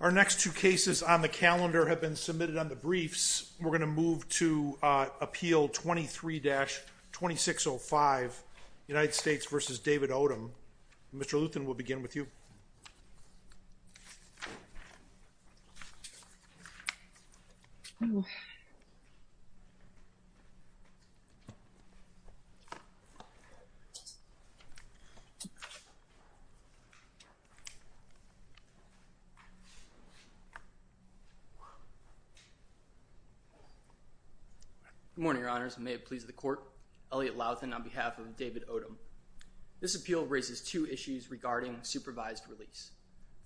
Our next two cases on the calendar have been submitted on the briefs. We're going to move to appeal 23-2605, United States v. David Odom. Mr. Luthen, we'll begin with you. Good morning, Your Honors, and may it please the Court, Elliot Luthen on behalf of David Odom. This appeal raises two issues regarding supervised release.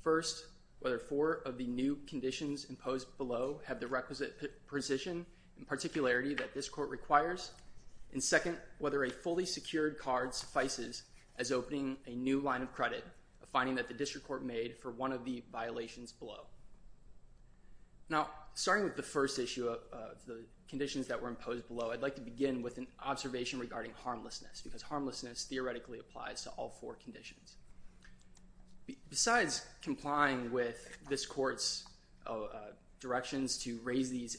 First, whether four of the new conditions imposed below have the requisite precision and particularity that this Court requires. And second, whether a fully secured card suffices as opening a new line of credit, a finding that the District Court made for one of the violations below. Now, starting with the first issue of the conditions that were imposed below, I'd like to begin with an observation regarding harmlessness, because harmlessness theoretically applies to all four conditions. Besides complying with this Court's directions to raise these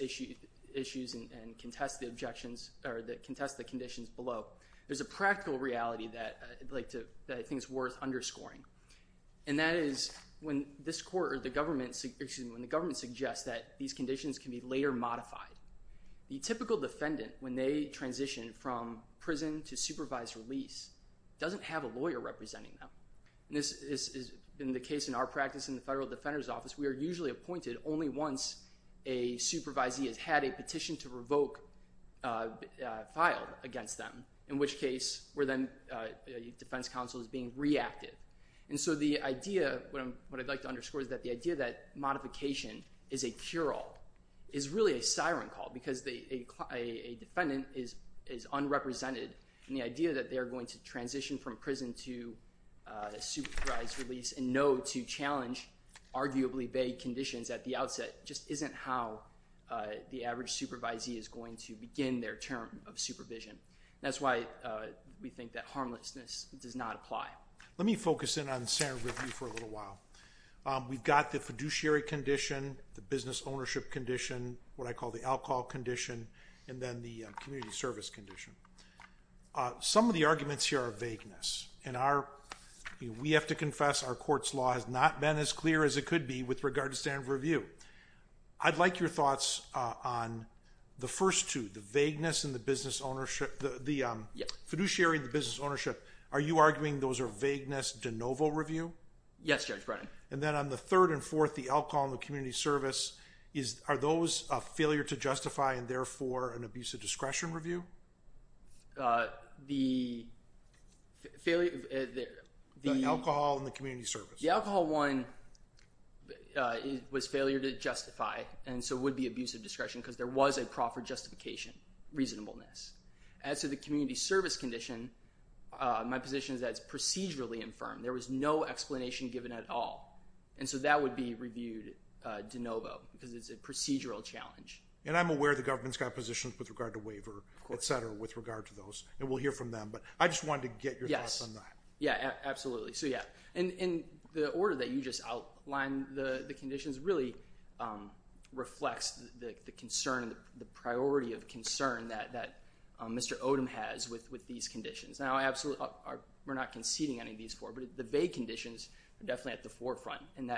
issues and contest the conditions below, there's a practical reality that I think is worth underscoring. And that is when the government suggests that these conditions can be later modified, the typical defendant, when they transition from prison to supervised release, doesn't have a lawyer representing them. And this has been the case in our practice in the Federal Defender's Office. We are usually appointed only once a supervisee has had a petition to revoke filed against them, in which case where then the defense counsel is being reactive. And so the idea, what I'd like to underscore is that the idea that modification is a cure-all is really a siren call, because a defendant is unrepresented, and the idea that they're going to transition from prison to supervised release and know to challenge arguably vague conditions at the outset just isn't how the average supervisee is going to begin their term of supervision. That's why we think that harmlessness does not apply. Let me focus in on standard review for a little while. We've got the fiduciary condition, the business ownership condition, what I call the alcohol condition, and then the community service condition. Some of the arguments here are vagueness. And we have to confess our court's law has not been as clear as it could be with regard to standard review. I'd like your thoughts on the first two, the vagueness and the fiduciary and the business ownership. Are you arguing those are vagueness de novo review? Yes, Judge Brennan. And then on the third and fourth, the alcohol and the community service, are those a failure to justify and therefore an abuse of discretion review? The failure of the alcohol and the community service. The alcohol one was failure to justify and so would be abuse of discretion because there was a proper justification, reasonableness. As to the community service condition, my position is that it's procedurally infirmed. There was no explanation given at all. And so that would be reviewed de novo because it's a procedural challenge. And I'm aware the government's got positions with regard to waiver, et cetera, with regard to those. And we'll hear from them. But I just wanted to get your thoughts on that. Yeah, absolutely. And the order that you just outlined the conditions really reflects the concern, the priority of concern that Mr. Odom has with these conditions. Now, we're not conceding any of these four, but the vague conditions are definitely at the forefront. And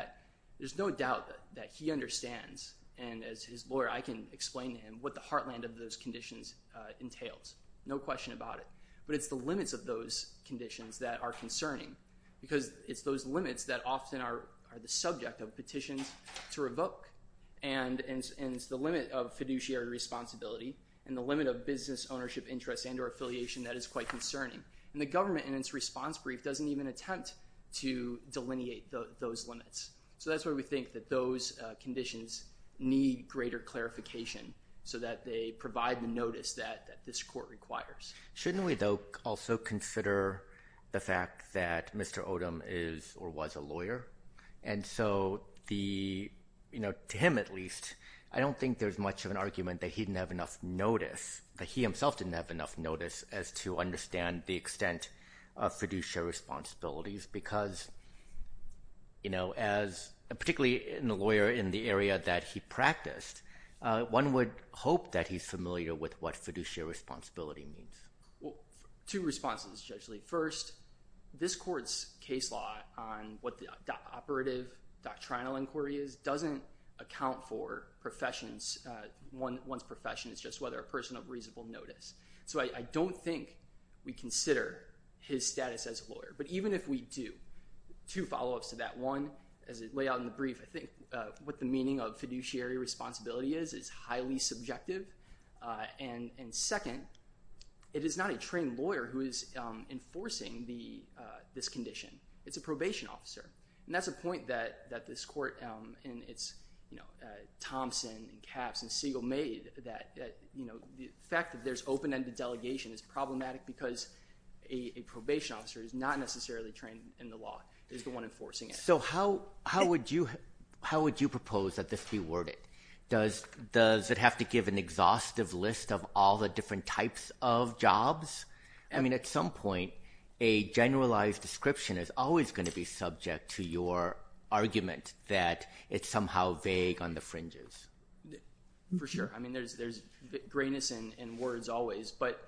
there's no doubt that he understands and as his lawyer, I can explain to him what the heartland of those conditions entails. No question about it. But it's the limits of those conditions that are concerning because it's those limits that often are the subject of petitions to revoke. And it's the limit of fiduciary responsibility and the limit of business ownership interest and or affiliation that is quite concerning. And the government in its response brief doesn't even attempt to delineate those limits. So that's why we think that those conditions need greater clarification so that they provide the notice that this court requires. Shouldn't we, though, also consider the fact that Mr. Odom is or was a lawyer? And so to him, at least, I don't think there's much of an argument that he didn't have enough notice, that he himself didn't have enough notice as to understand the extent of fiduciary responsibilities. Because, you know, as particularly in the lawyer in the area that he practiced, one would hope that he's familiar with what fiduciary responsibility means. Well, two responses, Judge Lee. First, this court's case law on what the operative doctrinal inquiry is doesn't account for professions. One's profession is just whether a person of reasonable notice. So I don't think we consider his status as a lawyer. But even if we do, two follow-ups to that. One, as it lay out in the brief, I think what the meaning of fiduciary responsibility is is highly subjective. And second, it is not a trained lawyer who is enforcing this condition. It's a probation officer. And that's a point that this court in its Thompson and Capps and Siegel made, that the fact that there's open-ended delegation is problematic because a probation officer is not necessarily trained in the law. He's the one enforcing it. So how would you propose that this be worded? Does it have to give an exhaustive list of all the different types of jobs? I mean, at some point, a generalized description is always going to be subject to your argument that it's somehow vague on the fringes. For sure. I mean, there's grayness in words always. But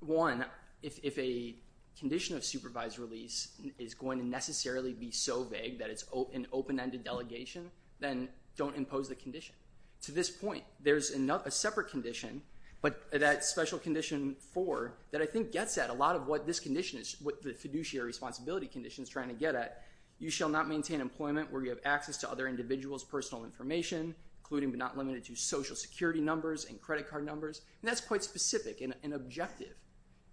one, if a condition of supervised release is going to necessarily be so vague that it's an open-ended delegation, then don't impose the condition. To this point, there's a separate condition, but that special condition four that I think gets at a lot of what this condition is, what the fiduciary responsibility condition is trying to get at. You shall not maintain employment where you have access to other individuals' personal information, including but not limited to social security numbers and credit card numbers. And that's quite specific and objective.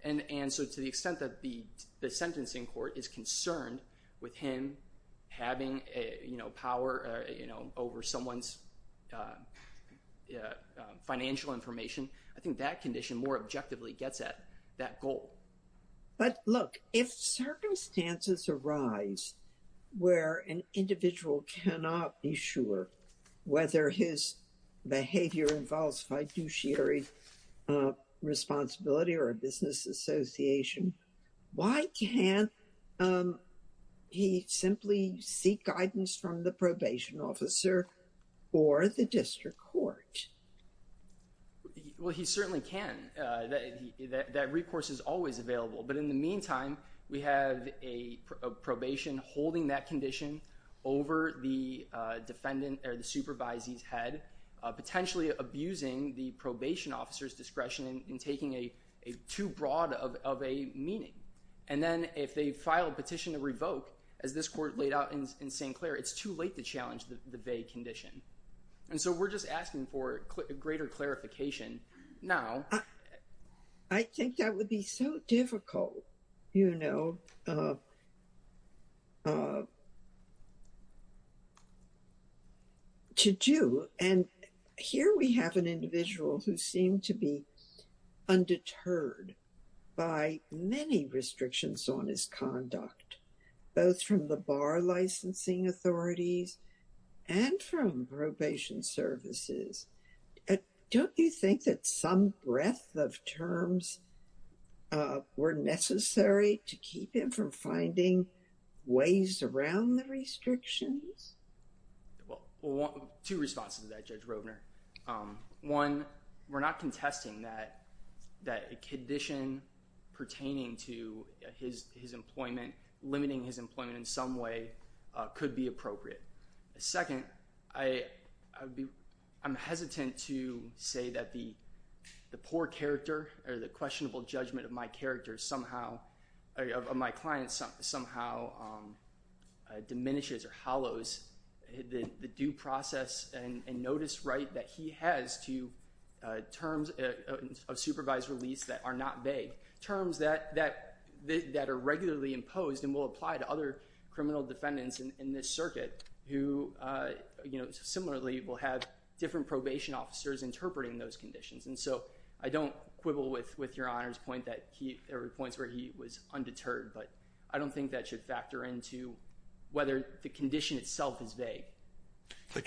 And so to the extent that the sentencing court is concerned with him having power over someone's financial information, I think that condition more objectively gets at that goal. But look, if circumstances arise where an individual cannot be sure whether his behavior involves fiduciary responsibility or a business association, why can't he simply seek guidance from the probation officer or the district court? Well, he certainly can. That recourse is always available. But in the meantime, we have a probation holding that condition over the defendant or the supervisee's head, potentially abusing the probation officer's discretion in taking too broad of a meaning. And then if they file a petition to revoke, as this court laid out in St. Clair, it's too late to challenge the vague condition. And so we're just asking for greater clarification now. I think that would be so difficult, you know, to do. And here we have an individual who seemed to be undeterred by many restrictions on his conduct, both from the bar licensing authorities and from probation services. Don't you think that some breadth of terms were necessary to keep him from finding ways around the restrictions? Well, two responses to that, Judge Roedner. One, we're not contesting that a condition pertaining to his employment, limiting his employment in some way, could be appropriate. Second, I'm hesitant to say that the poor character or the questionable judgment of my client somehow diminishes or hollows the due process and notice right that he has to terms of supervised release that are not vague. Similarly, we'll have different probation officers interpreting those conditions. And so I don't quibble with your Honor's point that there were points where he was undeterred. But I don't think that should factor into whether the condition itself is vague. I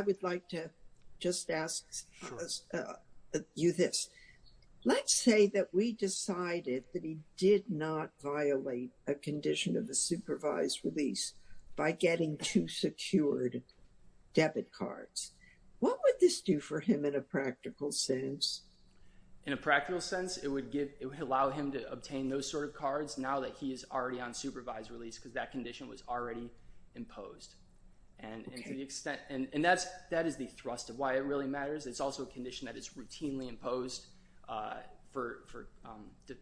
would like to just ask you this. Let's say that we decided that he did not violate a condition of the supervised release by getting two secured debit cards. What would this do for him in a practical sense? In a practical sense, it would allow him to obtain those sort of cards now that he is already on supervised release because that condition was already imposed. And that is the thrust of why it really matters. It's also a condition that is routinely imposed for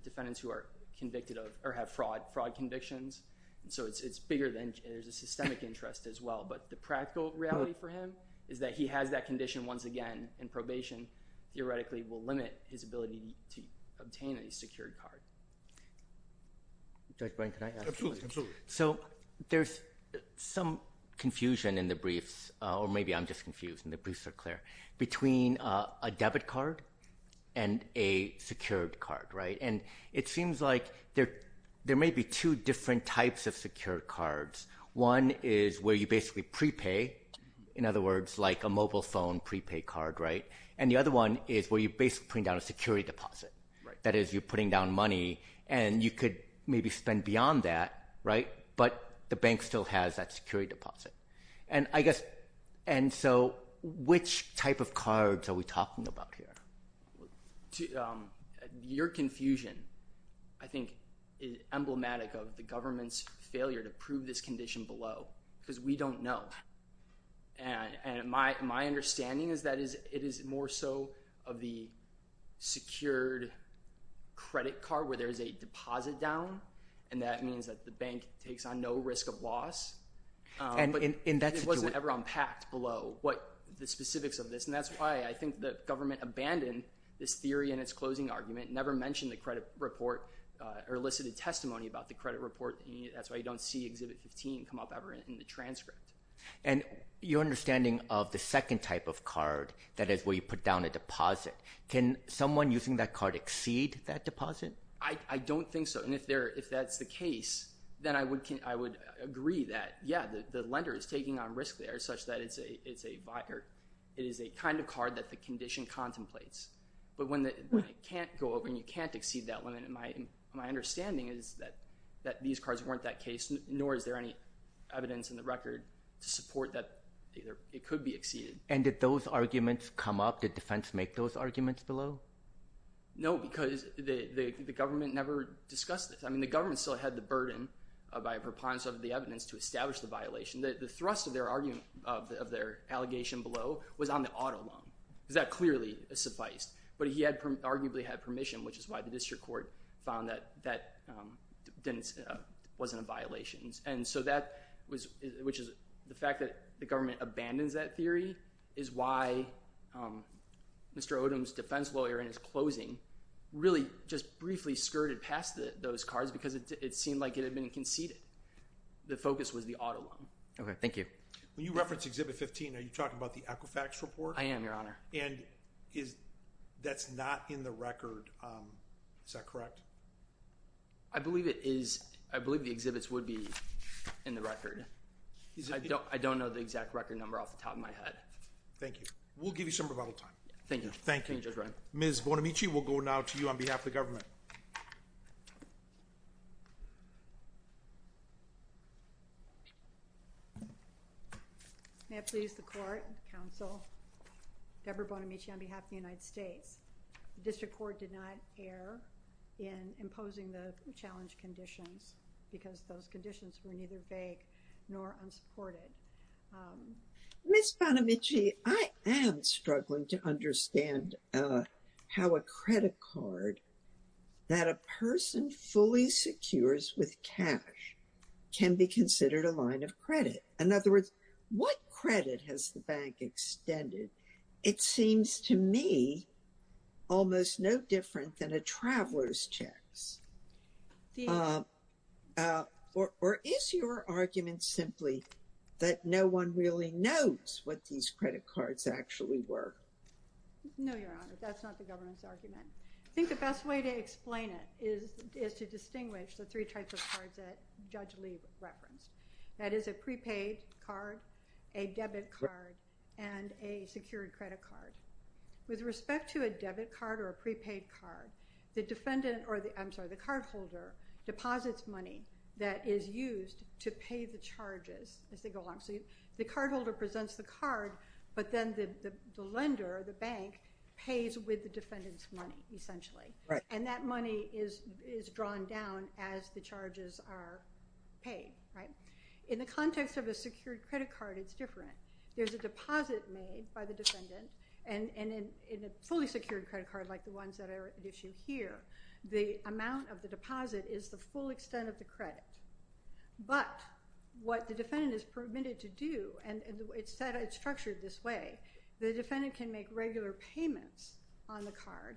defendants who are convicted of or have fraud convictions. And so it's bigger than there's a systemic interest as well. But the practical reality for him is that he has that condition once again, and probation theoretically will limit his ability to obtain a secured card. Judge Bryan, can I ask a question? Absolutely. So there's some confusion in the briefs, or maybe I'm just confused and the briefs are clear, between a debit card and a secured card, right? And it seems like there may be two different types of secured cards. One is where you basically prepay, in other words, like a mobile phone prepay card, right? And the other one is where you're basically putting down a security deposit. Right. And that is you're putting down money, and you could maybe spend beyond that, right? But the bank still has that security deposit. And I guess – and so which type of cards are we talking about here? Your confusion, I think, is emblematic of the government's failure to prove this condition below because we don't know. And my understanding is that it is more so of the secured credit card where there is a deposit down, and that means that the bank takes on no risk of loss. But it wasn't ever unpacked below the specifics of this. And that's why I think the government abandoned this theory in its closing argument, never mentioned the credit report or elicited testimony about the credit report. That's why you don't see Exhibit 15 come up ever in the transcript. And your understanding of the second type of card, that is where you put down a deposit, can someone using that card exceed that deposit? I don't think so. And if that's the case, then I would agree that, yeah, the lender is taking on risk there such that it is a kind of card that the condition contemplates. But when it can't go over and you can't exceed that limit, my understanding is that these cards weren't that case, nor is there any evidence in the record to support that it could be exceeded. And did those arguments come up? Did defense make those arguments below? No, because the government never discussed this. I mean, the government still had the burden by a preponderance of the evidence to establish the violation. The thrust of their argument – of their allegation below was on the auto loan. That clearly sufficed. But he arguably had permission, which is why the district court found that that wasn't a violation. And so that was – which is the fact that the government abandons that theory is why Mr. Odom's defense lawyer in his closing really just briefly skirted past those cards because it seemed like it had been conceded. The focus was the auto loan. Okay, thank you. When you reference Exhibit 15, are you talking about the Equifax report? I am, Your Honor. And is – that's not in the record, is that correct? I believe it is – I believe the exhibits would be in the record. I don't know the exact record number off the top of my head. Thank you. We'll give you some rebuttal time. Thank you. Thank you. Ms. Bonamici, we'll go now to you on behalf of the government. May it please the court, counsel, Deborah Bonamici on behalf of the United States. The district court did not err in imposing the challenge conditions because those conditions were neither vague nor unsupported. Ms. Bonamici, I am struggling to understand how a credit card that a person fully secures with cash can be considered a line of credit. In other words, what credit has the bank extended? It seems to me almost no different than a traveler's checks. Or is your argument simply that no one really knows what these credit cards actually were? No, Your Honor, that's not the government's argument. I think the best way to explain it is to distinguish the three types of cards that Judge Lee referenced. That is a prepaid card, a debit card, and a secured credit card. With respect to a debit card or a prepaid card, the cardholder deposits money that is used to pay the charges. The cardholder presents the card, but then the lender, the bank, pays with the defendant's money, essentially. And that money is drawn down as the charges are paid. In the context of a secured credit card, it's different. There's a deposit made by the defendant, and in a fully secured credit card like the ones that are at issue here, the amount of the deposit is the full extent of the credit. But what the defendant is permitted to do, and it's structured this way, the defendant can make regular payments on the card,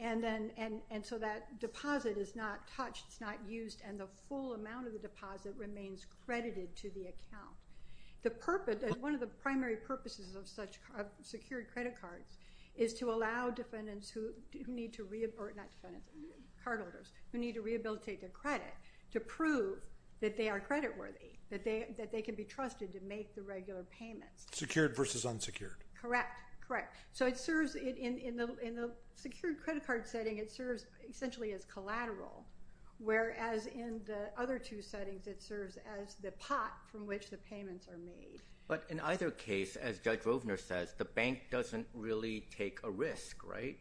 and so that deposit is not touched, it's not used, and the full amount of the deposit remains credited to the account. One of the primary purposes of secured credit cards is to allow cardholders who need to rehabilitate their credit to prove that they are creditworthy, that they can be trusted to make the regular payments. Secured versus unsecured. Correct. Correct. So in the secured credit card setting, it serves essentially as collateral, whereas in the other two settings, it serves as the pot from which the payments are made. But in either case, as Judge Rovner says, the bank doesn't really take a risk, right,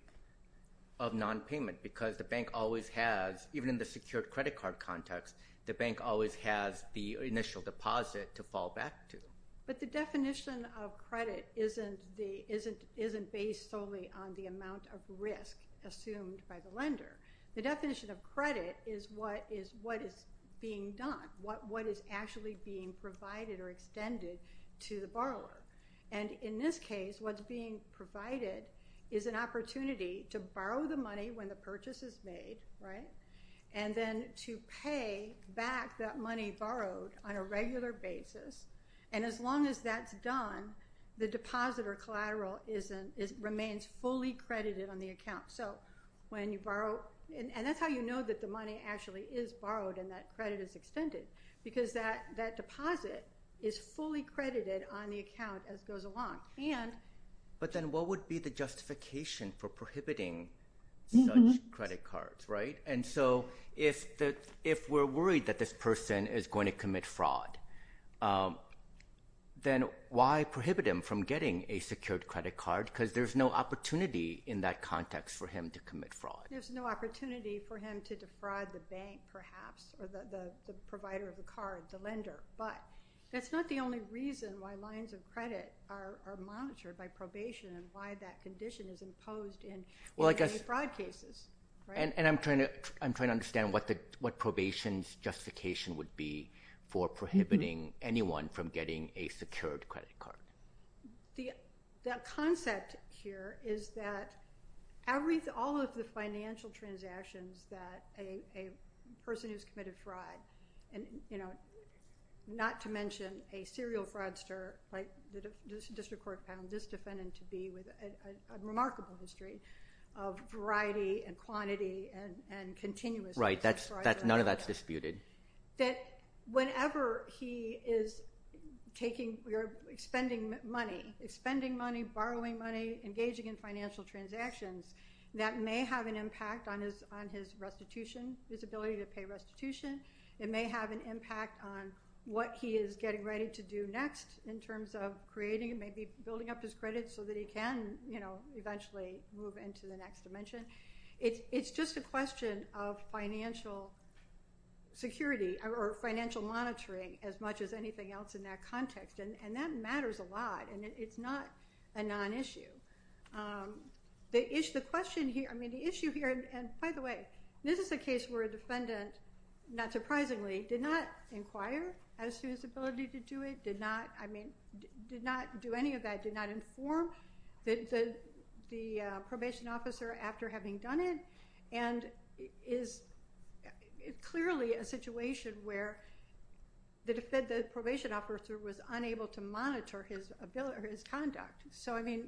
of nonpayment, because the bank always has, even in the secured credit card context, the bank always has the initial deposit to fall back to. But the definition of credit isn't based solely on the amount of risk assumed by the lender. The definition of credit is what is being done, what is actually being provided or extended to the borrower. And in this case, what's being provided is an opportunity to borrow the money when the purchase is made, right, and then to pay back that money borrowed on a regular basis. And as long as that's done, the deposit or collateral remains fully credited on the account. And that's how you know that the money actually is borrowed and that credit is extended, because that deposit is fully credited on the account as it goes along. But then what would be the justification for prohibiting such credit cards, right? And so if we're worried that this person is going to commit fraud, then why prohibit them from getting a secured credit card? Because there's no opportunity in that context for him to commit fraud. There's no opportunity for him to defraud the bank, perhaps, or the provider of the card, the lender. But that's not the only reason why lines of credit are monitored by probation and why that condition is imposed in fraud cases. And I'm trying to understand what probation's justification would be for prohibiting anyone from getting a secured credit card. The concept here is that all of the financial transactions that a person who's committed fraud, and not to mention a serial fraudster like the district court panel, this defendant-to-be with a remarkable history of variety and quantity and continuous fraud. Right, none of that's disputed. That whenever he is taking or expending money, expending money, borrowing money, engaging in financial transactions, that may have an impact on his restitution, his ability to pay restitution. It may have an impact on what he is getting ready to do next in terms of creating, maybe building up his credit so that he can, you know, eventually move into the next dimension. It's just a question of financial security or financial monitoring as much as anything else in that context. And that matters a lot, and it's not a non-issue. The issue here, and by the way, this is a case where a defendant, not surprisingly, did not inquire as to his ability to do it, did not do any of that, did not inform the probation officer after having done it, and is clearly a situation where the probation officer was unable to monitor his conduct. So, I mean,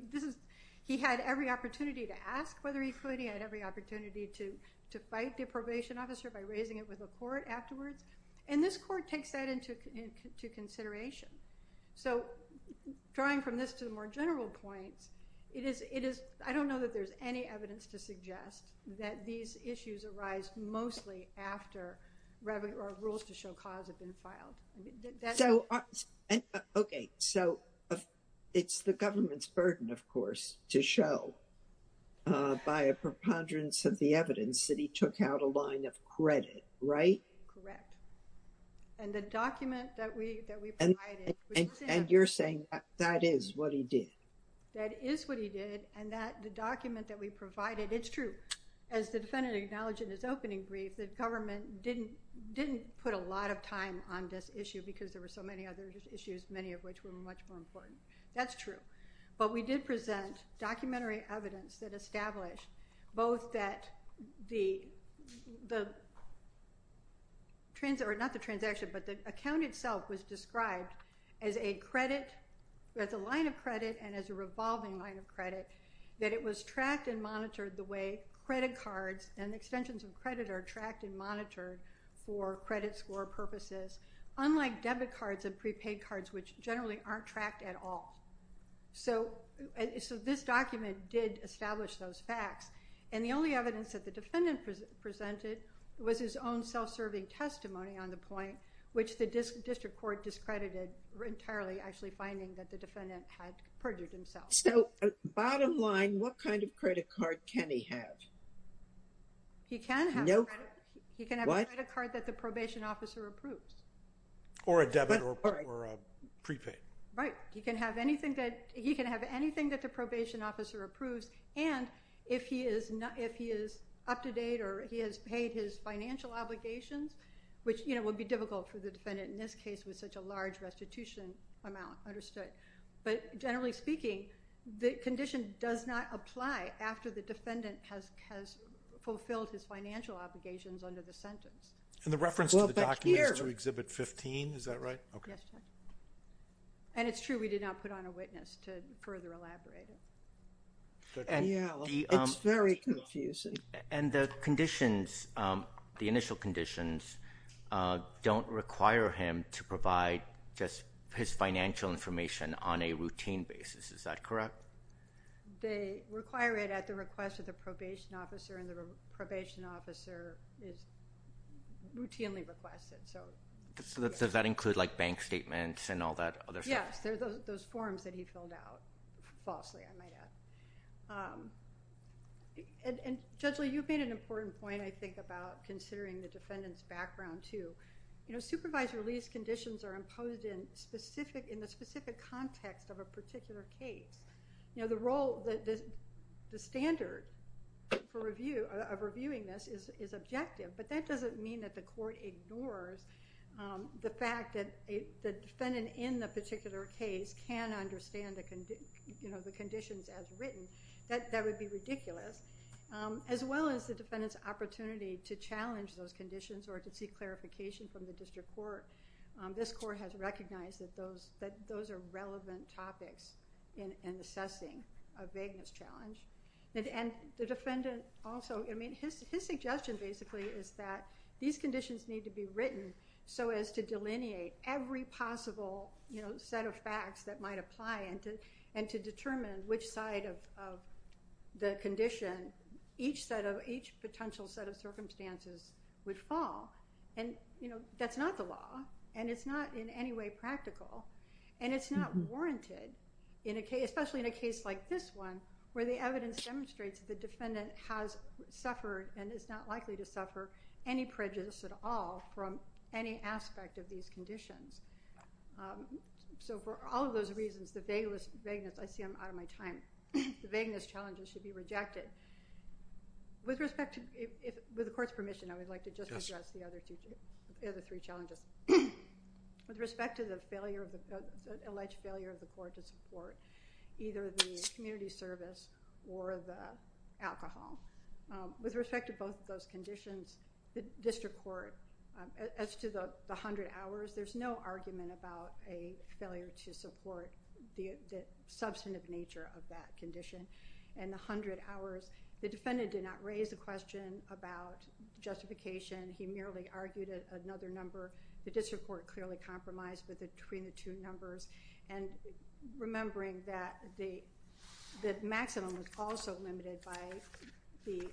he had every opportunity to ask whether he could. He had every opportunity to fight the probation officer by raising it with the court afterwards. And this court takes that into consideration. So drawing from this to the more general points, it is, I don't know that there's any evidence to suggest that these issues arise mostly after rules to show cause have been filed. So, okay, so it's the government's burden, of course, to show by a preponderance of the evidence that he took out a line of credit, right? Correct. And the document that we provided. And you're saying that is what he did? That is what he did, and the document that we provided, it's true. As the defendant acknowledged in his opening brief, the government didn't put a lot of time on this issue because there were so many other issues, many of which were much more important. That's true. But we did present documentary evidence that established both that the transaction, or not the transaction, but the account itself was described as a line of credit and as a revolving line of credit, that it was tracked and monitored the way credit cards and extensions of credit are tracked and monitored for credit score purposes, unlike debit cards and prepaid cards, which generally aren't tracked at all. So, this document did establish those facts, and the only evidence that the defendant presented was his own self-serving testimony on the point, which the district court discredited, entirely actually finding that the defendant had perjured himself. So, bottom line, what kind of credit card can he have? He can have a credit card that the probation officer approves. Or a debit or a prepaid. Right. He can have anything that the probation officer approves, and if he is up to date or he has paid his financial obligations, which would be difficult for the defendant in this case with such a large restitution amount, understood. But generally speaking, the condition does not apply after the defendant has fulfilled his financial obligations under the sentence. And the reference to the document is to Exhibit 15, is that right? Yes, Judge. And it's true, we did not put on a witness to further elaborate it. Yeah, it's very confusing. And the conditions, the initial conditions, don't require him to provide just his financial information on a routine basis. Is that correct? They require it at the request of the probation officer, and the probation officer routinely requests it. Does that include like bank statements and all that other stuff? Yes, those forms that he filled out, falsely, I might add. And, Judge Lee, you've made an important point, I think, about considering the defendant's background, too. You know, supervised release conditions are imposed in the specific context of a particular case. You know, the standard of reviewing this is objective, but that doesn't mean that the court ignores the fact that the defendant in the particular case can understand the conditions as written. That would be ridiculous. As well as the defendant's opportunity to challenge those conditions or to seek clarification from the district court, this court has recognized that those are relevant topics in assessing a vagueness challenge. And the defendant also, I mean, his suggestion, basically, is that these conditions need to be written so as to delineate every possible set of facts that might apply and to determine which side of the condition each potential set of circumstances would fall. And, you know, that's not the law, and it's not in any way practical, and it's not warranted, especially in a case like this one, where the evidence demonstrates that the defendant has suffered and is not likely to suffer any prejudice at all from any aspect of these conditions. So for all of those reasons, the vagueness challenges should be rejected. With the court's permission, I would like to just address the other three challenges. With respect to the alleged failure of the court to support either the community service or the alcohol, with respect to both of those conditions, the district court, as to the 100 hours, there's no argument about a failure to support the substantive nature of that condition. And the 100 hours, the defendant did not raise the question about justification. He merely argued another number. The district court clearly compromised between the two numbers. And remembering that the maximum was also limited by the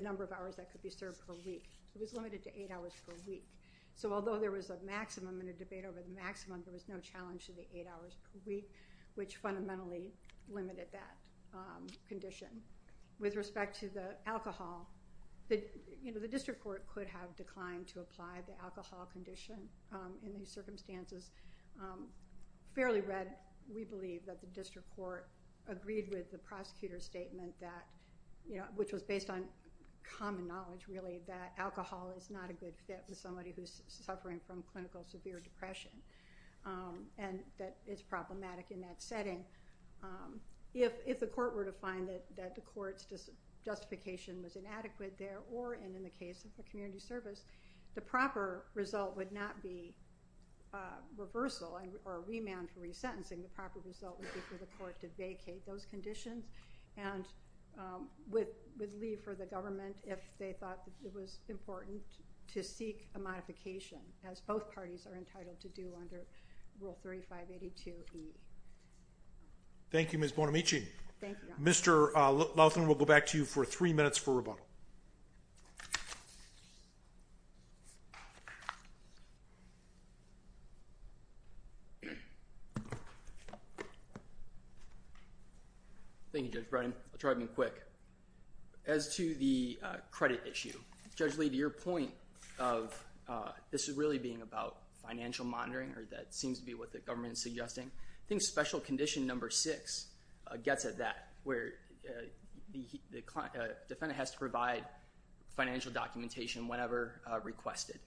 number of hours that could be served per week. It was limited to eight hours per week. So although there was a maximum and a debate over the maximum, there was no challenge to the eight hours per week, which fundamentally limited that condition. With respect to the alcohol, the district court could have declined to apply the alcohol condition in these circumstances. Fairly read, we believe that the district court agreed with the prosecutor's statement, which was based on common knowledge, really, that alcohol is not a good fit for somebody who's suffering from clinical severe depression and that it's problematic in that setting. If the court were to find that the court's justification was inadequate there, or in the case of a community service, the proper result would not be reversal or remand for resentencing. The proper result would be for the court to vacate those conditions and would leave for the government if they thought it was important to seek a modification, as both parties are entitled to do under Rule 3582E. Thank you, Ms. Bonamici. Thank you, Your Honor. Mr. Laughton, we'll go back to you for three minutes for rebuttal. Thank you, Judge Browning. I'll try to be quick. As to the credit issue, Judge Lee, to your point of this really being about financial monitoring, or that seems to be what the government is suggesting, I think Special Condition No. 6 gets at that, where the defendant has to provide financial documentation whenever requested.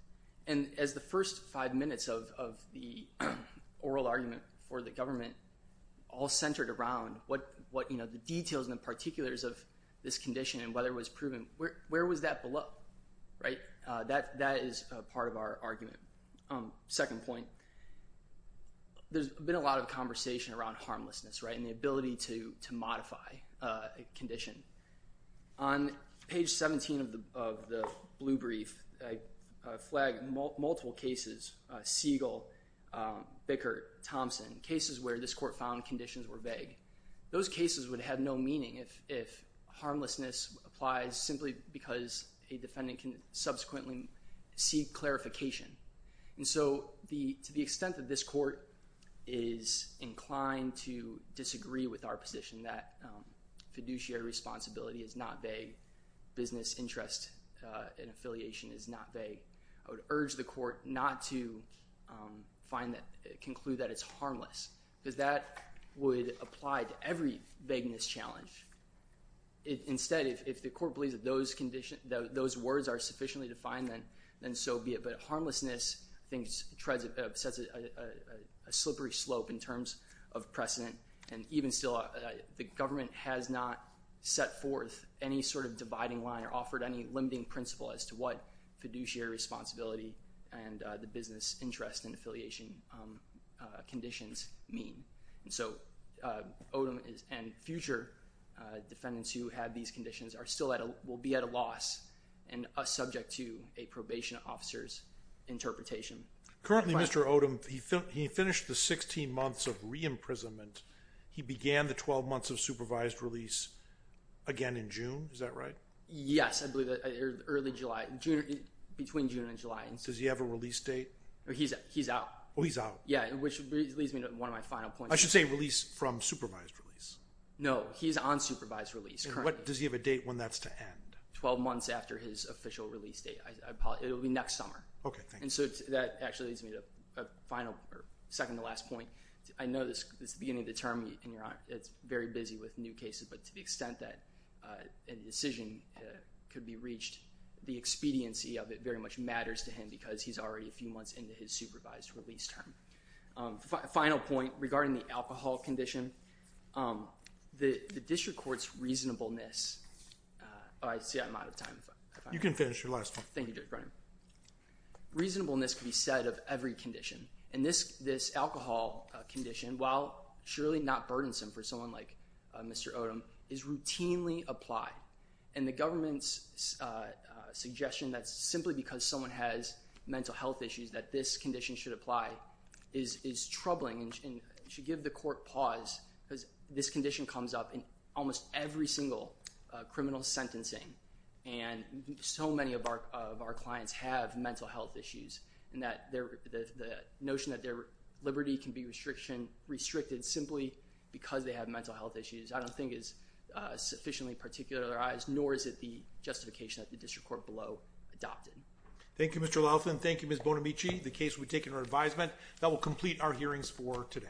And as the first five minutes of the oral argument for the government all centered around the details and particulars of this condition and whether it was proven, where was that below? That is part of our argument. Second point, there's been a lot of conversation around harmlessness and the ability to modify a condition. On page 17 of the blue brief, I flag multiple cases, Siegel, Bickert, Thompson, cases where this court found conditions were vague. Those cases would have no meaning if harmlessness applies simply because a defendant can subsequently seek clarification. And so to the extent that this court is inclined to disagree with our position that fiduciary responsibility is not vague, business interest and affiliation is not vague, I would urge the court not to conclude that it's harmless, because that would apply to every vagueness challenge. Instead, if the court believes that those words are sufficiently defined, then so be it. But harmlessness sets a slippery slope in terms of precedent, and even still the government has not set forth any sort of dividing line or offered any limiting principle as to what fiduciary responsibility and the business interest and affiliation conditions mean. And so Odom and future defendants who have these conditions will be at a loss and subject to a probation officer's interpretation. Currently, Mr. Odom, he finished the 16 months of re-imprisonment. He began the 12 months of supervised release again in June. Is that right? Yes, I believe that early July. Between June and July. Does he have a release date? He's out. Oh, he's out. Yeah, which leads me to one of my final points. I should say release from supervised release. No, he's on supervised release currently. And does he have a date when that's to end? 12 months after his official release date. It will be next summer. Okay, thank you. And so that actually leads me to a second to last point. I know this is the beginning of the term, and it's very busy with new cases, but to the extent that a decision could be reached, the expediency of it very much matters to him because he's already a few months into his supervised release term. Final point regarding the alcohol condition. The district court's reasonableness. Oh, I see I'm out of time. You can finish your last one. Thank you, Judge Brennan. Reasonableness can be said of every condition. And this alcohol condition, while surely not burdensome for someone like Mr. Odom, is routinely applied. And the government's suggestion that simply because someone has mental health issues that this condition should apply is troubling and should give the court pause because this condition comes up in almost every single criminal sentencing. And so many of our clients have mental health issues, and the notion that their liberty can be restricted simply because they have mental health issues I don't think is sufficiently particularized, nor is it the justification that the district court below adopted. Thank you, Mr. Laughlin. Thank you, Ms. Bonamici. The case will be taken under advisement. That will complete our hearings for today.